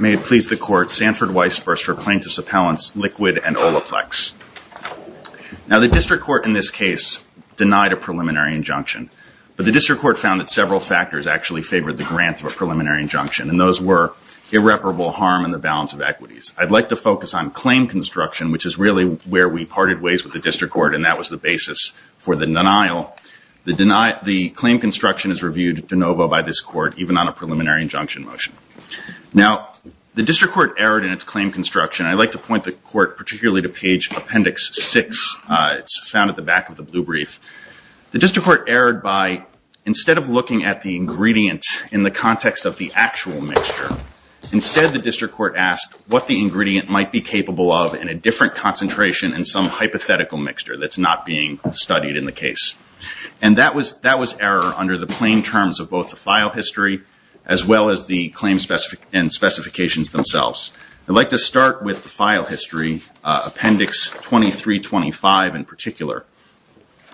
May it please the Court, Sanford Weisburst for plaintiffs' appellants Liqwd and Olaplex. Now the District Court in this case denied a preliminary injunction, but the District Court found that several factors actually favored the grant of a preliminary injunction, and those were irreparable harm in the balance of equities. I'd like to focus on claim construction, which is really where we parted ways with the District Court, and that was the basis for the denial. The claim construction is reviewed de novo by this Court, even on a preliminary injunction motion. Now, the District Court erred in its claim construction, and I'd like to point the Court particularly to page Appendix 6. It's found at the back of the blue brief. The District Court erred by, instead of looking at the ingredient in the context of the actual mixture, instead the District Court asked what the ingredient might be capable of in a different concentration in some hypothetical mixture that's not being studied in the case. And that was error under the plain terms of both the file history, as well as the claim and specifications themselves. I'd like to start with the file history, Appendix 2325 in particular,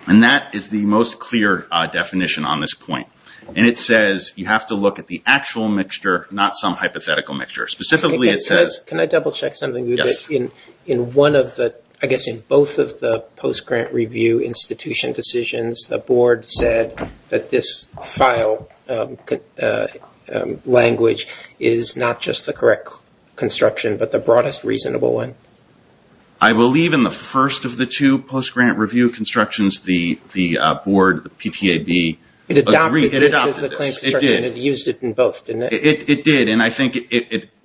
and that is the most clear definition on this point. And it says you have to look at the actual mixture, not some hypothetical mixture. Specifically it says... Can I double check something? Yes. In one of the... I guess in both of the post-grant review institution decisions, the Board said that this file language is not just the correct construction, but the broadest reasonable one. I believe in the first of the two post-grant review constructions, the Board, the PTAB... It adopted this as the claim construction. It adopted this. It did. It used it in both, didn't it? It did. And I think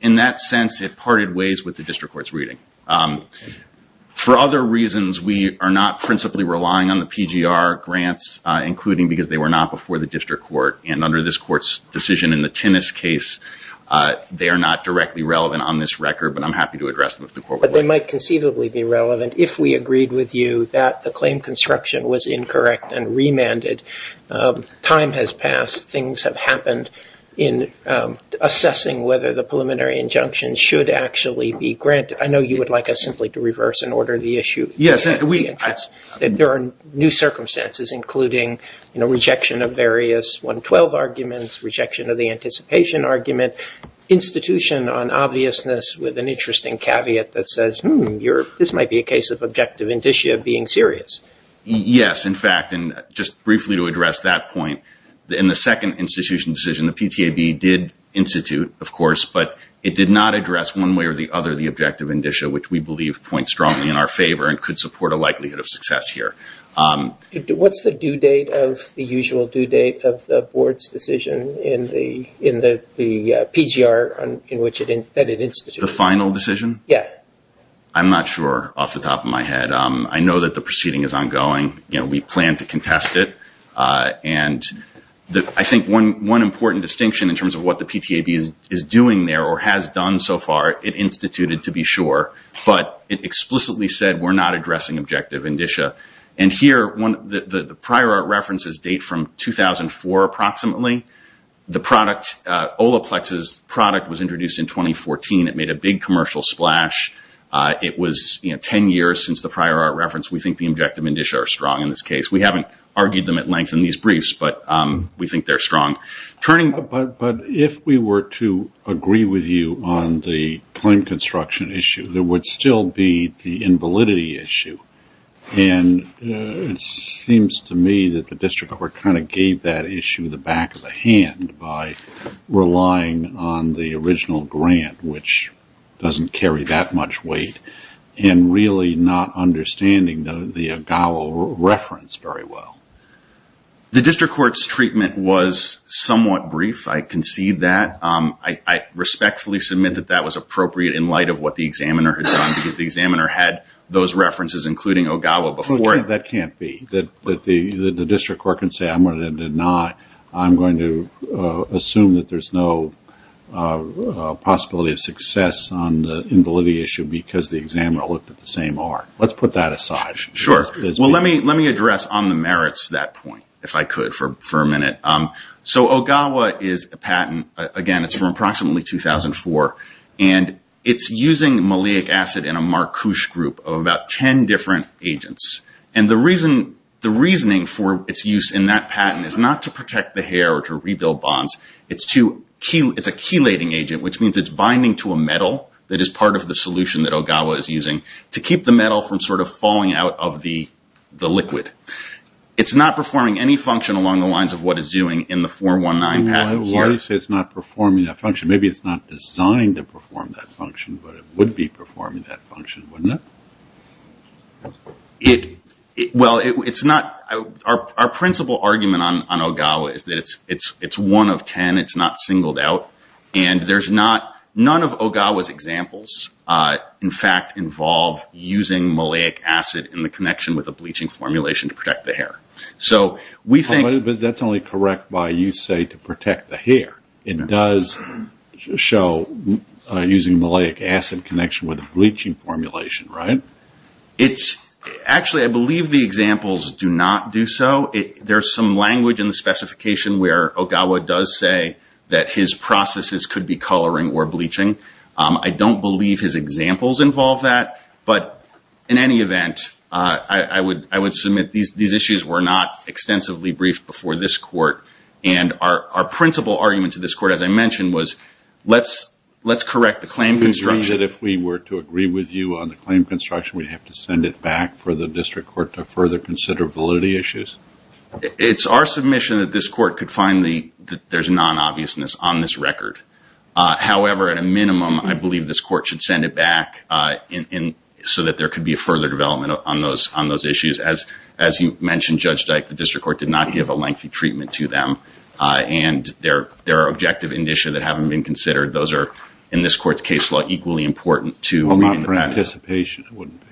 in that sense, it parted ways with the District Court's reading. For other reasons, we are not principally relying on the PGR grants, including because they were not before the District Court. And under this Court's decision in the Tinnis case, they are not directly relevant on this record, but I'm happy to address them if the Court would like. But they might conceivably be relevant if we agreed with you that the claim construction was incorrect and remanded. Time has passed. Things have happened in assessing whether the preliminary injunction should actually be granted. I know you would like us simply to reverse and order the issue. Yes. There are new circumstances, including rejection of various 112 arguments, rejection of the anticipation argument, institution on obviousness with an interesting caveat that says, hmm, this might be a case of objective indicia being serious. Yes, in fact. And just briefly to address that point, in the second institution decision, the PTAB did institute, of course, but it did not address one way or the other the objective indicia, which we believe points strongly in our favor and could support a likelihood of success here. What's the due date of the usual due date of the Board's decision in the PGR in which it instituted? The final decision? Yes. I'm not sure off the top of my head. I know that the proceeding is ongoing. We plan to contest it. And I think one important distinction in terms of what the PTAB is doing there or has done so far, it instituted to be sure, but it explicitly said we're not addressing objective indicia. And here, the prior art references date from 2004 approximately. The product, Olaplex's product was introduced in 2014. It made a big commercial splash. It was 10 years since the prior art reference. We think the objective indicia are strong in this case. We haven't argued them at length in these briefs, but we think they're strong. But if we were to agree with you on the claim construction issue, there would still be the invalidity issue. And it seems to me that the district court kind of gave that issue the back of the hand by relying on the original grant, which doesn't carry that much weight, and really not understanding the Agalo reference very well. The district court's treatment was somewhat brief. I concede that. I respectfully submit that that was appropriate in light of what the examiner has done, because the examiner had those references, including Agalo, before. That can't be. The district court can say, I'm going to deny. I'm going to assume that there's no possibility of success on the invalidity issue because the examiner looked at the same art. Let's put that aside. Sure. Well, let me address on the merits that point, if I could, for a minute. So Ogawa is a patent, again, it's from approximately 2004, and it's using maleic acid in a marcouche group of about 10 different agents. And the reasoning for its use in that patent is not to protect the hair or to rebuild bonds. It's a chelating agent, which means it's binding to a metal that is part of the solution that the liquid. It's not performing any function along the lines of what it's doing in the 419 patent. Why do you say it's not performing that function? Maybe it's not designed to perform that function, but it would be performing that function, wouldn't it? Well, it's not. Our principal argument on Ogawa is that it's one of 10. It's not singled out. And there's not, none of Ogawa's examples, in fact, involve using maleic acid in the bleaching formulation to protect the hair. So we think... But that's only correct by you say to protect the hair. It does show using maleic acid connection with the bleaching formulation, right? It's actually, I believe the examples do not do so. There's some language in the specification where Ogawa does say that his processes could be coloring or bleaching. I don't believe his examples involve that. But in any event, I would submit these issues were not extensively briefed before this court. And our principal argument to this court, as I mentioned, was let's correct the claim construction. You agree that if we were to agree with you on the claim construction, we'd have to send it back for the district court to further consider validity issues? It's our submission that this court could find that there's non-obviousness on this record. However, at a minimum, I believe this court should send it back so that there could be a further development on those issues. As you mentioned, Judge Dyke, the district court did not give a lengthy treatment to them. And there are objective initia that haven't been considered. Those are, in this court's case law, equally important to read the patent. Well, not for anticipation, it wouldn't be.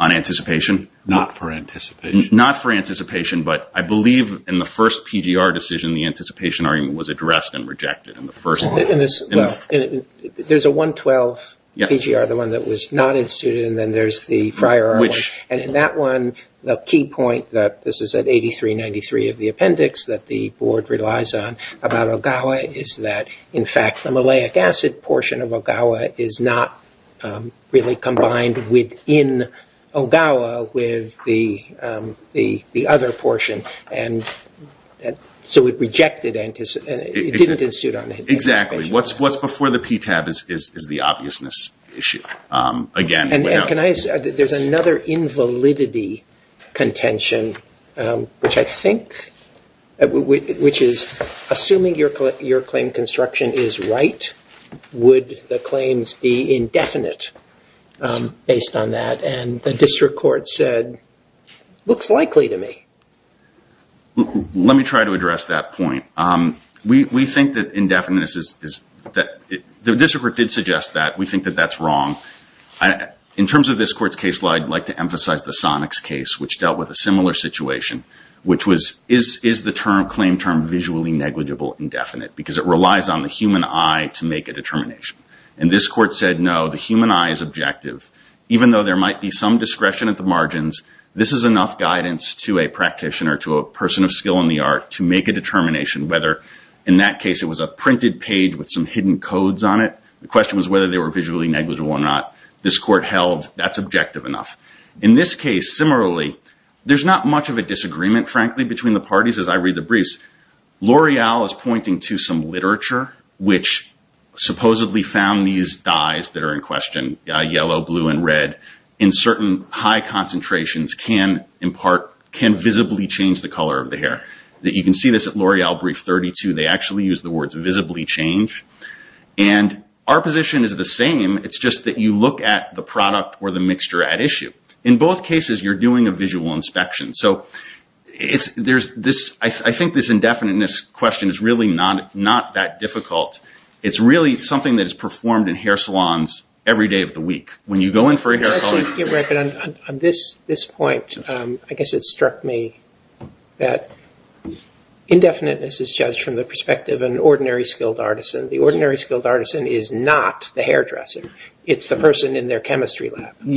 On anticipation? Not for anticipation. Not for anticipation, but I believe in the first PGR decision, the anticipation argument was addressed and rejected. Well, there's a 112 PGR, the one that was not instituted, and then there's the prior one. And in that one, the key point that this is at 8393 of the appendix that the board relies on about Ogawa is that, in fact, the maleic acid portion of Ogawa is not really combined within Ogawa with the other portion. And so it rejected, and it didn't institute on anticipation. Exactly. What's before the PTAB is the obviousness issue. Again, without- And can I, there's another invalidity contention, which I think, which is, assuming your claim construction is right, would the claims be indefinite based on that? And the district court said, looks likely to me. Let me try to address that point. We think that indefinite is, the district court did suggest that. We think that that's wrong. In terms of this court's case law, I'd like to emphasize the Sonics case, which dealt with a similar situation, which was, is the claim term visually negligible indefinite? Because it relies on the human eye to make a determination. And this court said, no, the human eye is objective. Even though there might be some discretion at the margins, this is enough guidance to a practitioner, to a person of skill in the art, to make a determination whether, in that case, it was a printed page with some hidden codes on it. The question was whether they were visually negligible or not. This court held that's objective enough. In this case, similarly, there's not much of a disagreement, frankly, between the parties as I read the briefs. L'Oreal is pointing to some literature, which supposedly found these dyes that are in question, yellow, blue, and red, in certain high concentrations, can visibly change the color of the hair. You can see this at L'Oreal brief 32. They actually use the words visibly change. Our position is the same. It's just that you look at the product or the mixture at issue. In both cases, you're doing a visual inspection. I think this indefiniteness question is really not that difficult. It's really something that is performed in hair salons every day of the week. When you go in for a hair salon... I think you're right, but on this point, I guess it struck me that indefiniteness is judged from the perspective of an ordinary skilled artisan. The ordinary skilled artisan is not the hairdresser. It's the person in their chemistry lab. In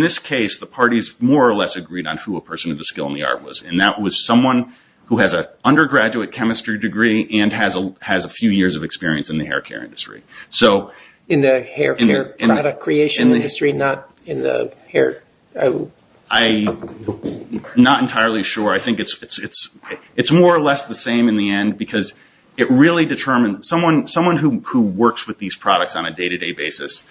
this case, the parties more or less agreed on who a person of the skill in the art was. That was someone who has an undergraduate chemistry degree and has a few years of experience in the hair care industry. In the hair care product creation industry, not in the hair... Not entirely sure. I think it's more or less the same in the end, because it really determined... Someone who works with these products on a day-to-day basis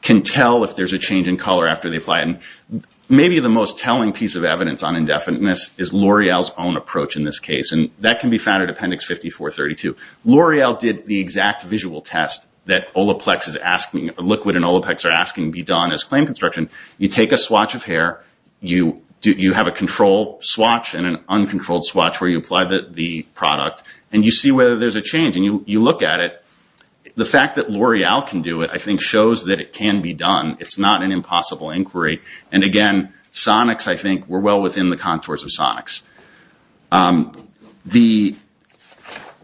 can tell if there's a change in color after they apply it. Maybe the most telling piece of evidence on indefiniteness is L'Oreal's own approach in this case. That can be found at Appendix 5432. L'Oreal did the exact visual test that Liquid and Olaplex are asking be done as claim construction. You take a swatch of hair. You have a control swatch and an uncontrolled swatch where you apply the product. You see whether there's a change. You look at it. The fact that L'Oreal can do it, I think, shows that it can be done. It's not an impossible inquiry. Again, Sonics, I think, we're well within the contours of Sonics.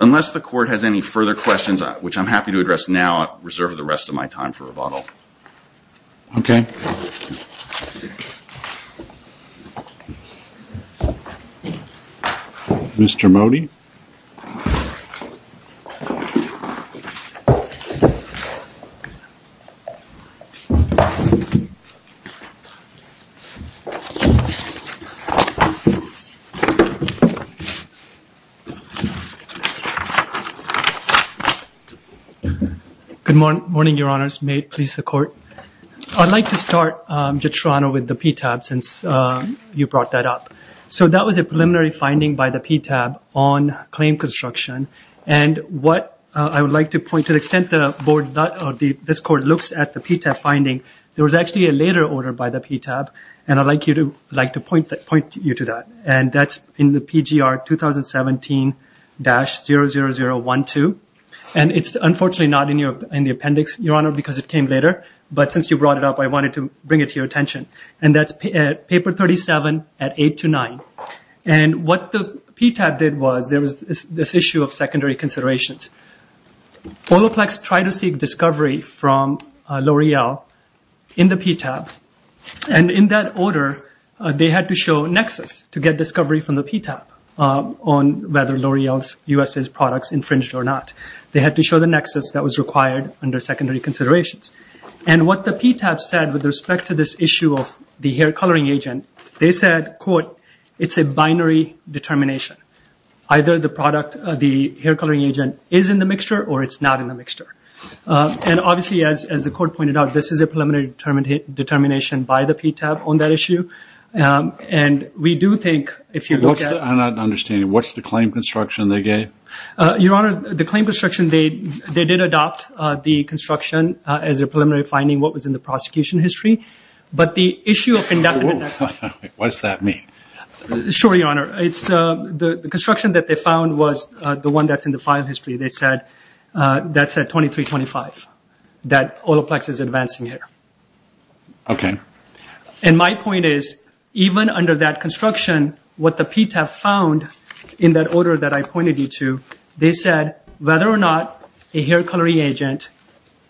Unless the court has any further questions, which I'm happy to address now, I reserve the rest of my time for rebuttal. Okay. Mr. Mody? Good morning, Your Honors. May it please the court. I'd like to start, Judge Serrano, with the PTAB since you brought that up. That was a preliminary finding by the PTAB on claim construction. What I would like to point, to the extent that this court looks at the PTAB finding, there was actually a later order by the PTAB, and I'd like to point you to that. That's in the PGR 2017-00012. It's unfortunately not in the appendix, Your Honor, because it came later, but since you brought it up, I wanted to bring it to your attention. That's Paper 37 at 8 to 9. What the PTAB did was, there was this issue of secondary considerations. Olaplex tried to seek discovery from L'Oreal in the PTAB, and in that order, they had to show nexus to get discovery from the PTAB on whether L'Oreal's U.S.A. products infringed or not. They had to show the nexus that was required under secondary considerations. What the PTAB said with respect to this issue of the hair coloring agent, they said, quote, it's a binary determination. Either the product, the hair coloring agent, is in the mixture or it's not in the mixture. Obviously, as the court pointed out, this is a preliminary determination by the PTAB on that issue. We do think, if you look at- I'm not understanding. What's the claim construction they gave? Your Honor, the claim construction, they did adopt the construction as a preliminary finding what was in the prosecution history. But the issue of indefinite- What does that mean? Sure, Your Honor. The construction that they found was the one that's in the file history. They said that's at 2325, that Olaplex is advancing hair. My point is, even under that construction, what the PTAB found in that order that I pointed you to, they said whether or not a hair coloring agent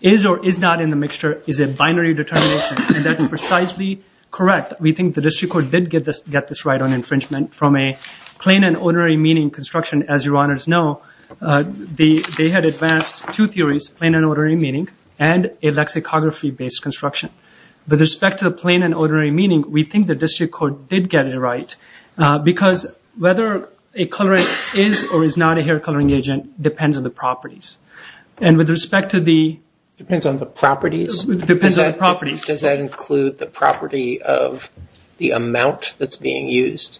is or is not in the mixture is a binary determination. That's precisely correct. We think the district court did get this right on infringement from a plain and ordinary meaning construction. As Your Honors know, they had advanced two theories, plain and ordinary meaning and a lexicography-based construction. With respect to the plain and ordinary meaning, we think the district court did get it right because whether a colorant is or is not a hair coloring agent depends on the properties. And with respect to the- Depends on the properties? Depends on the properties. Does that include the property of the amount that's being used?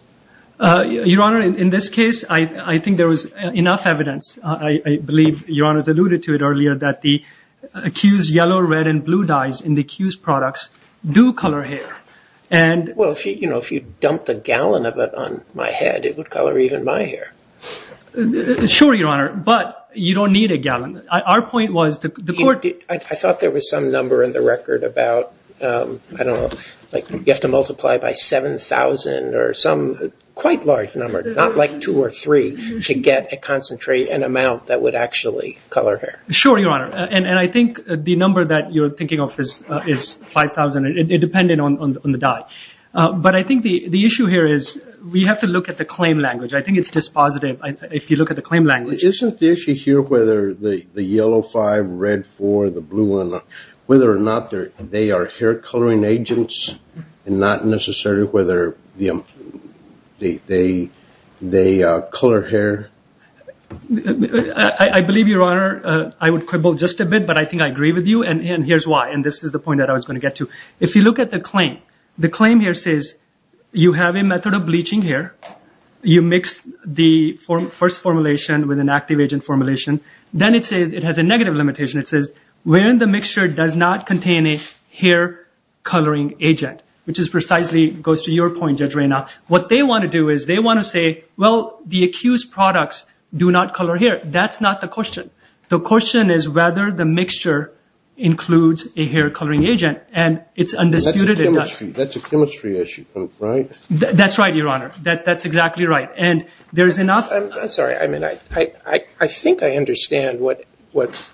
Your Honor, in this case, I think there was enough evidence, I believe Your Honors alluded to it earlier, that the accused yellow, red, and blue dyes in the accused products do color hair. Well, if you dumped a gallon of it on my head, it would color even my hair. Sure, Your Honor, but you don't need a gallon. Our point was the court- I thought there was some number in the record about, I don't know, you have to multiply by 7,000 or some quite large number, not like two or three, to get a concentrate, an amount that would actually color hair. Sure, Your Honor. And I think the number that you're thinking of is 5,000, independent on the dye. But I think the issue here is we have to look at the claim language. I think it's dispositive. If you look at the claim language- Isn't the issue here whether the yellow five, red four, the blue one, whether or not they are hair coloring agents and not necessarily whether they color hair? I believe, Your Honor, I would quibble just a bit, but I think I agree with you, and here's why, and this is the point that I was going to get to. If you look at the claim, the claim here says you have a method of bleaching hair. You mix the first formulation with an active agent formulation. Then it has a negative limitation. It says, when the mixture does not contain a hair coloring agent, which precisely goes to your point, Judge Reynaud, what they want to do is they want to say, well, the accused products do not color hair. That's not the question. The question is whether the mixture includes a hair coloring agent, and it's undisputed it does. That's a chemistry issue, right? That's right, Your Honor. That's exactly right. And there's enough- I'm sorry. I mean, I think I understand what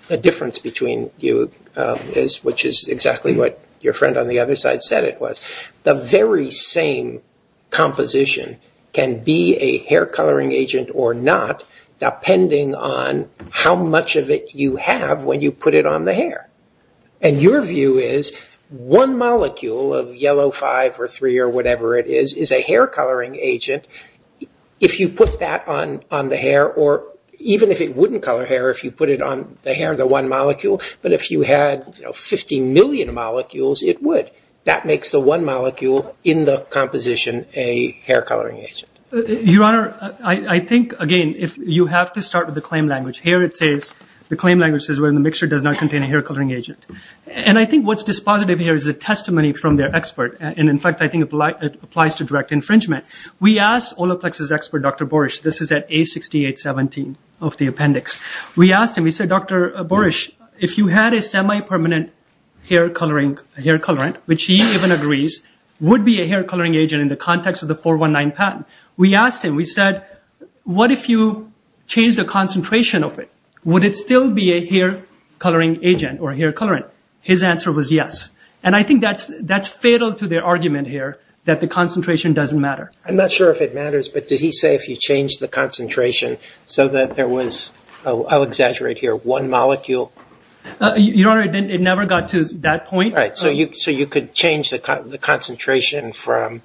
the difference between you is, which is exactly what your friend on the other side said it was. The very same composition can be a hair coloring agent or not, depending on how much of it you have when you put it on the hair. And your view is, one molecule of yellow 5 or 3 or whatever it is, is a hair coloring agent. If you put that on the hair, or even if it wouldn't color hair if you put it on the hair, the one molecule, but if you had 50 million molecules, it would. That makes the one molecule in the composition a hair coloring agent. Your Honor, I think, again, you have to start with the claim language. Here it says, the claim language says, well, the mixture does not contain a hair coloring agent. And I think what's dispositive here is a testimony from their expert, and in fact, I think it applies to direct infringement. We asked Olaplex's expert, Dr. Borish, this is at A6817 of the appendix. We asked him, we said, Dr. Borish, if you had a semi-permanent hair colorant, which he even agrees would be a hair coloring agent in the context of the 419 patent. We asked him, we said, what if you change the concentration of it? Would it still be a hair coloring agent or a hair colorant? His answer was yes. And I think that's fatal to their argument here that the concentration doesn't matter. I'm not sure if it matters, but did he say if you change the concentration so that there was, I'll exaggerate here, one molecule? Your Honor, it never got to that point. Right. So you could change the concentration from,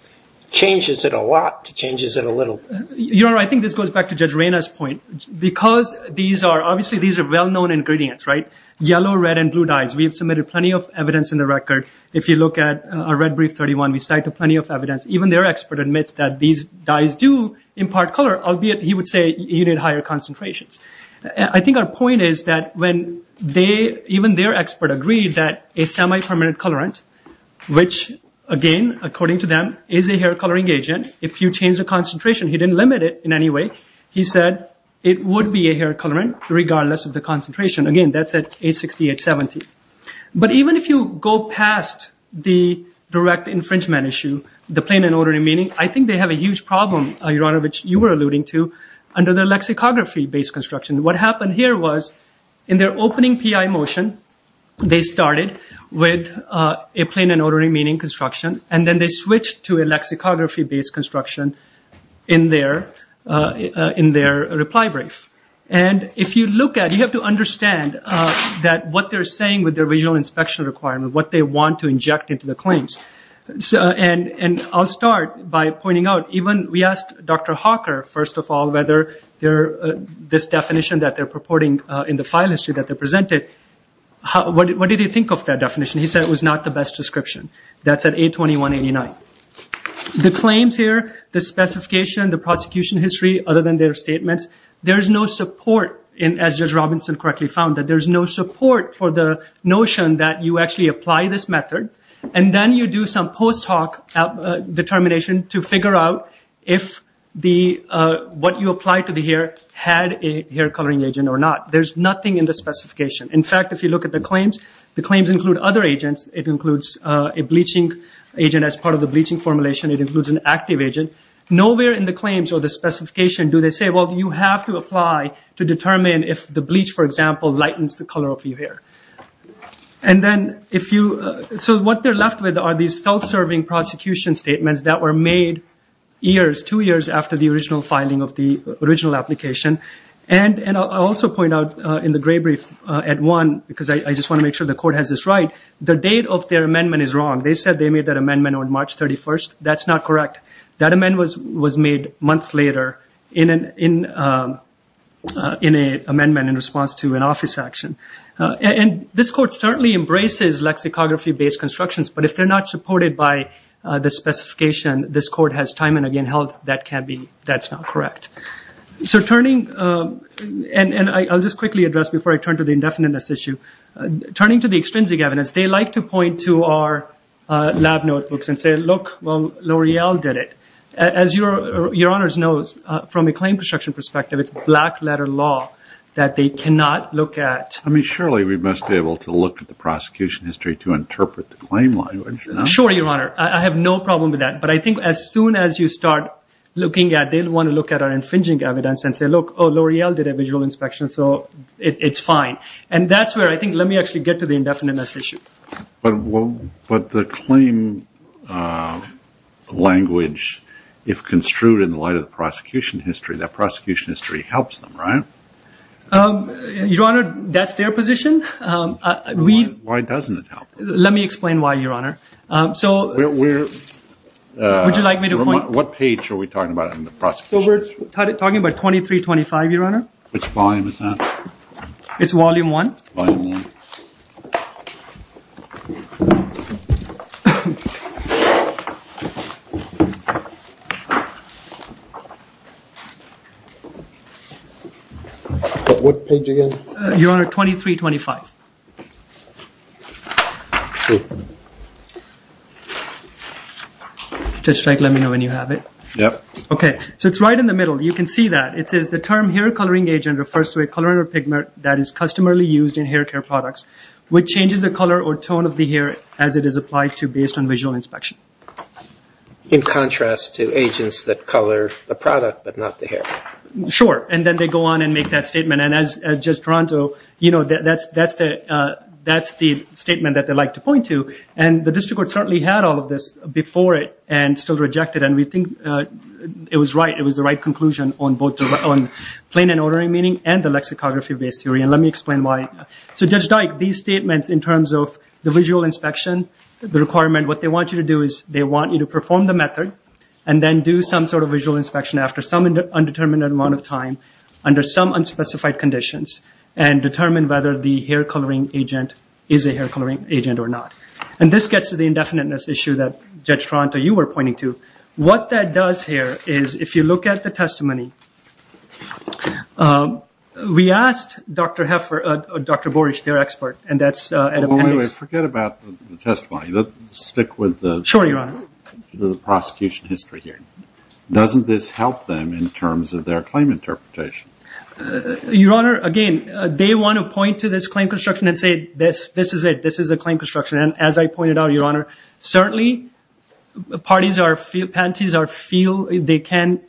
changes it a lot to changes it a little bit. Your Honor, I think this goes back to Judge Reyna's point. Because these are, obviously these are well-known ingredients, right, yellow, red, and blue dyes. We have submitted plenty of evidence in the record. If you look at our red brief 31, we cite plenty of evidence. Even their expert admits that these dyes do impart color, albeit he would say you need higher concentrations. I think our point is that when they, even their expert agreed that a semi-permanent colorant, which again, according to them, is a hair coloring agent. If you change the concentration, he didn't limit it in any way. He said it would be a hair colorant regardless of the concentration. Again, that's at 860, 870. But even if you go past the direct infringement issue, the plain and ordinary meaning, I think they have a huge problem, Your Honor, which you were alluding to under their lexicography based construction. What happened here was in their opening PI motion, they started with a plain and ordinary meaning construction and then they switched to a lexicography based construction in their reply brief. If you look at it, you have to understand that what they're saying with their visual inspection requirement, what they want to inject into the claims. I'll start by pointing out, even we asked Dr. Hawker, first of all, whether this definition that they're purporting in the file history that they presented, what did he think of that definition? He said it was not the best description. That's at 82189. The claims here, the specification, the prosecution history, other than their statements, there is no support, as Judge Robinson correctly found, that there's no support for the notion that you actually apply this method and then you do some post hoc determination to figure out if what you applied to the hair had a hair coloring agent or not. There's nothing in the specification. In fact, if you look at the claims, the claims include other agents. It includes a bleaching agent as part of the bleaching formulation. It includes an active agent. Nowhere in the claims or the specification do they say, well, you have to apply to determine if the bleach, for example, lightens the color of your hair. What they're left with are these self-serving prosecution statements that were made years, two years after the original filing of the original application. I'll also point out in the gray brief at one, because I just want to make sure the court has this right, the date of their amendment is wrong. They said they made that amendment on March 31st. That's not correct. That amendment was made months later in an amendment in response to an office action. This court certainly embraces lexicography-based constructions, but if they're not supported by the specification, this court has time and again held that can't be, that's not correct. I'll just quickly address before I turn to the indefiniteness issue. Turning to the extrinsic evidence, they like to point to our lab notebooks and say, look, well, L'Oreal did it. As your honors knows, from a claim construction perspective, it's black letter law that they cannot look at. I mean, surely we must be able to look at the prosecution history to interpret the claim language. Sure, your honor. I have no problem with that, but I think as soon as you start looking at, they'll want to look at our infringing evidence and say, look, oh, L'Oreal did a visual inspection, so it's fine. That's where I think, let me actually get to the indefiniteness issue. But the claim language, if construed in the light of the prosecution history, that prosecution history helps them, right? Your honor, that's their position. Why doesn't it help them? Let me explain why, your honor. So we're... Would you like me to point... What page are we talking about in the prosecution history? So we're talking about 2325, your honor. Which volume is that? It's volume one. Volume one. What page again? Your honor, 2325. Let me know when you have it. Yep. Okay. So it's right in the middle. You can see that. It says, the term hair coloring agent refers to a colorant or pigment that is customarily used in hair care products, which changes the color or tone of the hair as it is applied to based on visual inspection. In contrast to agents that color the product but not the hair. Sure. And then they go on and make that statement. And as Judge Taranto, that's the statement that they like to point to. And the district court certainly had all of this before it and still rejected it. And we think it was right. It was the right conclusion on both the plain and ordering meaning and the lexicography based theory. And let me explain why. So Judge Dyke, these statements in terms of the visual inspection, the requirement, what they want you to do is they want you to perform the method and then do some sort of visual inspection after some undetermined amount of time under some unspecified conditions and determine whether the hair coloring agent is a hair coloring agent or not. And this gets to the indefiniteness issue that Judge Taranto, you were pointing to. What that does here is if you look at the testimony, we asked Dr. Heffer, Dr. Borish, their expert, and that's at appendix. Well, wait, wait. Forget about the testimony. Let's stick with the... Sure, Your Honor. ...the prosecution history here. Doesn't this help them in terms of their claim interpretation? Your Honor, again, they want to point to this claim construction and say this, this is it. This is a claim construction. And as I pointed out, Your Honor, certainly parties or penalties are feel, they can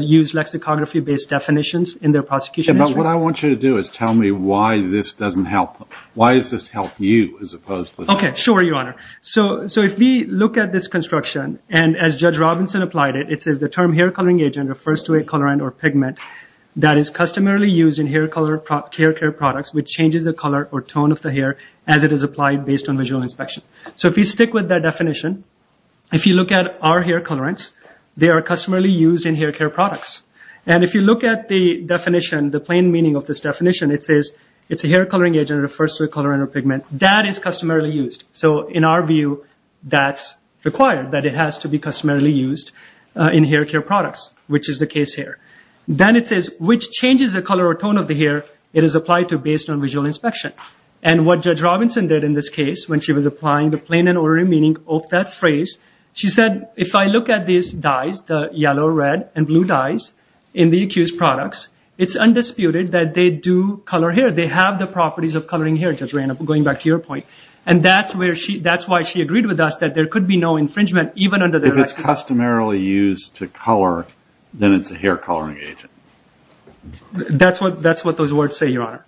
use lexicography-based definitions in their prosecution history. But what I want you to do is tell me why this doesn't help them. Why does this help you as opposed to... Okay. Sure, Your Honor. So if we look at this construction and as Judge Robinson applied it, it says the term hair coloring agent refers to a colorant or pigment that is customarily used in hair care products which changes the color or tone of the hair as it is applied based on visual inspection. So if you stick with that definition, if you look at our hair colorants, they are customarily used in hair care products. And if you look at the definition, the plain meaning of this definition, it says it's a hair coloring agent that refers to a colorant or pigment that is customarily used. So in our view, that's required, that it has to be customarily used in hair care products, which is the case here. Then it says, which changes the color or tone of the hair it is applied to based on visual inspection. And what Judge Robinson did in this case when she was applying the plain and ordinary meaning of that phrase, she said, if I look at these dyes, the yellow, red, and blue dyes in the accused products, it's undisputed that they do color hair. They have the properties of coloring hair, Judge Reynolds, going back to your point. And that's where she, that's why she agreed with us that there could be no infringement even under the... If it's customarily used to color, then it's a hair coloring agent. That's what those words say, Your Honor.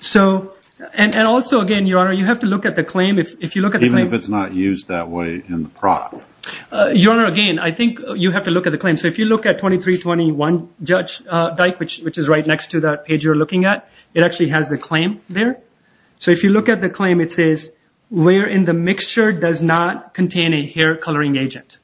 So, and also again, Your Honor, you have to look at the claim. If you look at the claim... Even if it's not used that way in the product. Your Honor, again, I think you have to look at the claim. So if you look at 2321, Judge Dyke, which is right next to that page you're looking at, it actually has the claim there. So if you look at the claim, it says, where in the mixture does not contain a hair coloring agent.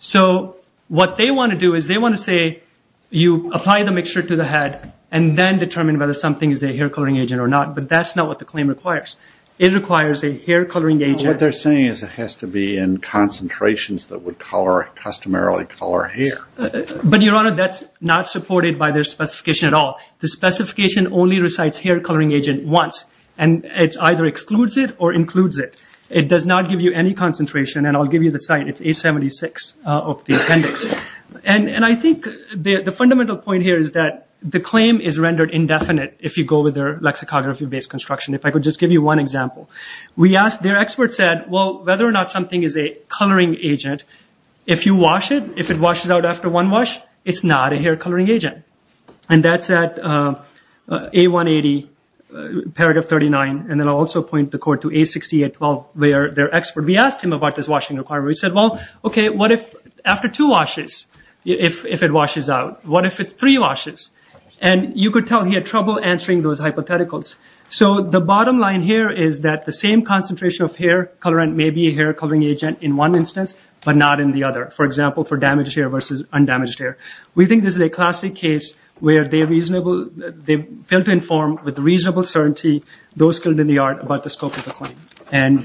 So what they want to do is they want to say, you apply the mixture to the head and then determine whether something is a hair coloring agent or not. But that's not what the claim requires. It requires a hair coloring agent. What they're saying is it has to be in concentrations that would color, customarily color hair. But Your Honor, that's not supported by their specification at all. The specification only recites hair coloring agent once. And it either excludes it or includes it. It does not give you any concentration. And I'll give you the site. It's 876 of the appendix. And I think the fundamental point here is that the claim is rendered indefinite if you go with their lexicography-based construction. If I could just give you one example. We asked... Their expert said, well, whether or not something is a coloring agent, if you wash it, if it washes out after one wash, it's not a hair coloring agent. And that's at A180, paragraph 39. And then I'll also point the court to A6812, where their expert, we asked him about this washing requirement. We said, well, okay, what if after two washes, if it washes out? What if it's three washes? And you could tell he had trouble answering those hypotheticals. So the bottom line here is that the same concentration of hair colorant may be a hair coloring agent in one instance, but not in the other. For example, for damaged hair versus undamaged hair. We think this is a classic case where they failed to inform with reasonable certainty those skilled in the art about the scope of the claim. And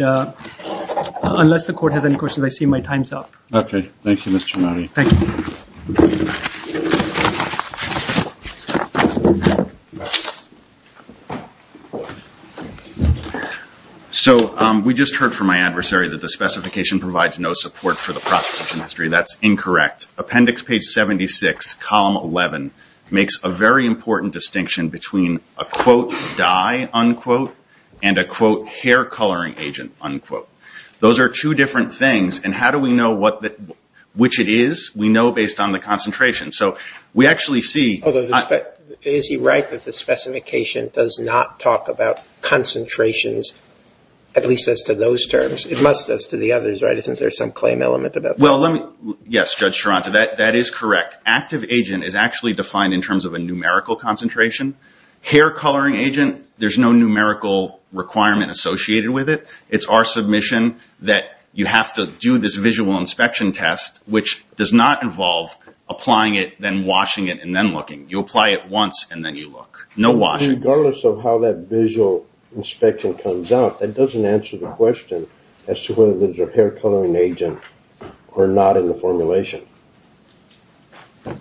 unless the court has any questions, I see my time's up. Okay. Thank you, Mr. Nari. Thank you. So we just heard from my adversary that the specification provides no support for the prosecution history. That's incorrect. Appendix page 76, column 11, makes a very important distinction between a, quote, dye, unquote, and a, quote, hair coloring agent, unquote. Those are two different things. And how do we know which it is? We know based on the concentration. So we actually see- Although, is he right that the specification does not talk about concentrations, at least as to those terms? It must, as to the others, right? Isn't there some claim element about that? Well, let me- Yes, Judge Sharanza, that is correct. Active agent is actually defined in terms of a numerical concentration. Hair coloring agent, there's no numerical requirement associated with it. It's our submission that you have to do this visual inspection test, which does not involve applying it, then washing it, and then looking. You apply it once, and then you look. No washing. Regardless of how that visual inspection comes out, that doesn't answer the question as to whether there's a hair coloring agent or not in the formulation. There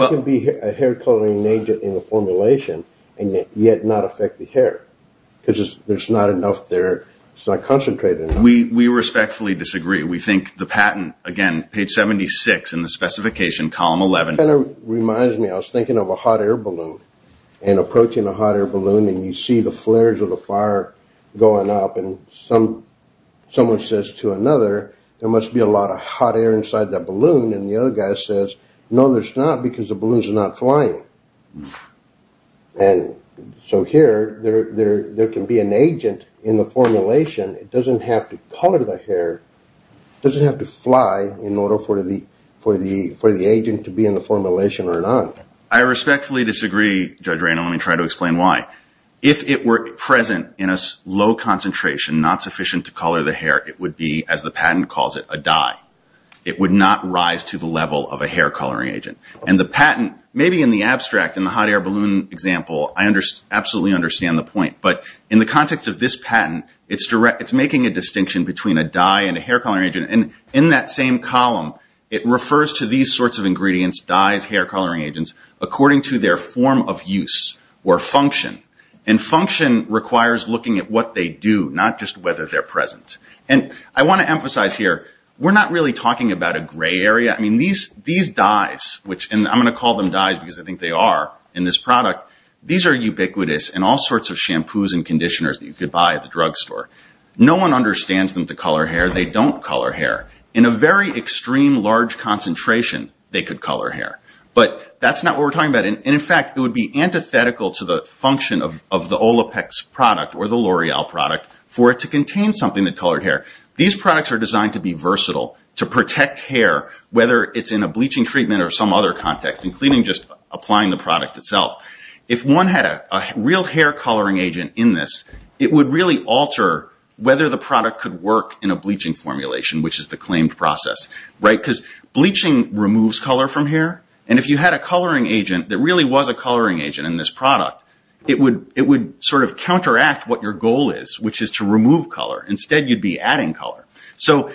can be a hair coloring agent in the formulation and yet not affect the hair, because there's not enough there. It's not concentrated enough. We respectfully disagree. We think the patent, again, page 76 in the specification, column 11- It kind of reminds me, I was thinking of a hot air balloon, and approaching a hot air balloon says to another, there must be a lot of hot air inside that balloon, and the other guy says, no, there's not, because the balloons are not flying. So here, there can be an agent in the formulation, it doesn't have to color the hair, it doesn't have to fly in order for the agent to be in the formulation or not. I respectfully disagree, Judge Ray, and let me try to explain why. If it were present in a low concentration, not sufficient to color the hair, it would be, as the patent calls it, a dye. It would not rise to the level of a hair coloring agent. The patent, maybe in the abstract, in the hot air balloon example, I absolutely understand the point, but in the context of this patent, it's making a distinction between a dye and a hair coloring agent, and in that same column, it refers to these sorts of ingredients, dyes, hair coloring agents, according to their form of use, or function, and function requires looking at what they do, not just whether they're present, and I want to emphasize here, we're not really talking about a gray area, I mean, these dyes, and I'm going to call them dyes because I think they are, in this product, these are ubiquitous in all sorts of shampoos and conditioners that you could buy at the drugstore. No one understands them to color hair, they don't color hair. In a very extreme, large concentration, they could color hair. But that's not what we're talking about, and in fact, it would be antithetical to the function of the Olaplex product, or the L'Oreal product, for it to contain something that colored hair. These products are designed to be versatile, to protect hair, whether it's in a bleaching treatment or some other context, including just applying the product itself. If one had a real hair coloring agent in this, it would really alter whether the product could work in a bleaching formulation, which is the claimed process, right? Because bleaching removes color from hair, and if you had a coloring agent that really was a coloring agent in this product, it would sort of counteract what your goal is, which is to remove color. Instead, you'd be adding color. So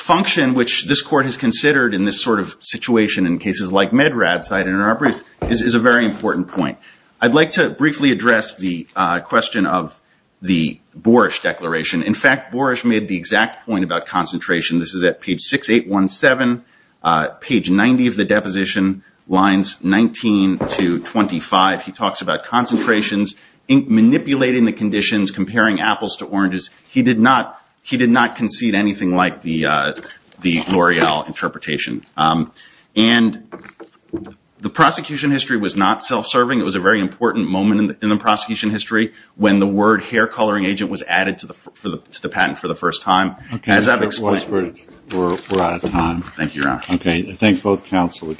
function, which this court has considered in this sort of situation in cases like MedRAD site interoperatives, is a very important point. I'd like to briefly address the question of the Boerish Declaration. In fact, Boerish made the exact point about concentration. This is at page 6817, page 90 of the deposition, lines 19 to 25. He talks about concentrations, manipulating the conditions, comparing apples to oranges. He did not concede anything like the L'Oreal interpretation. And the prosecution history was not self-serving. It was a very important moment in the prosecution history when the word hair coloring agent was added to the patent for the first time. As I've explained... Okay. We're out of time. Thank you, Your Honor. Okay. I thank both counsel.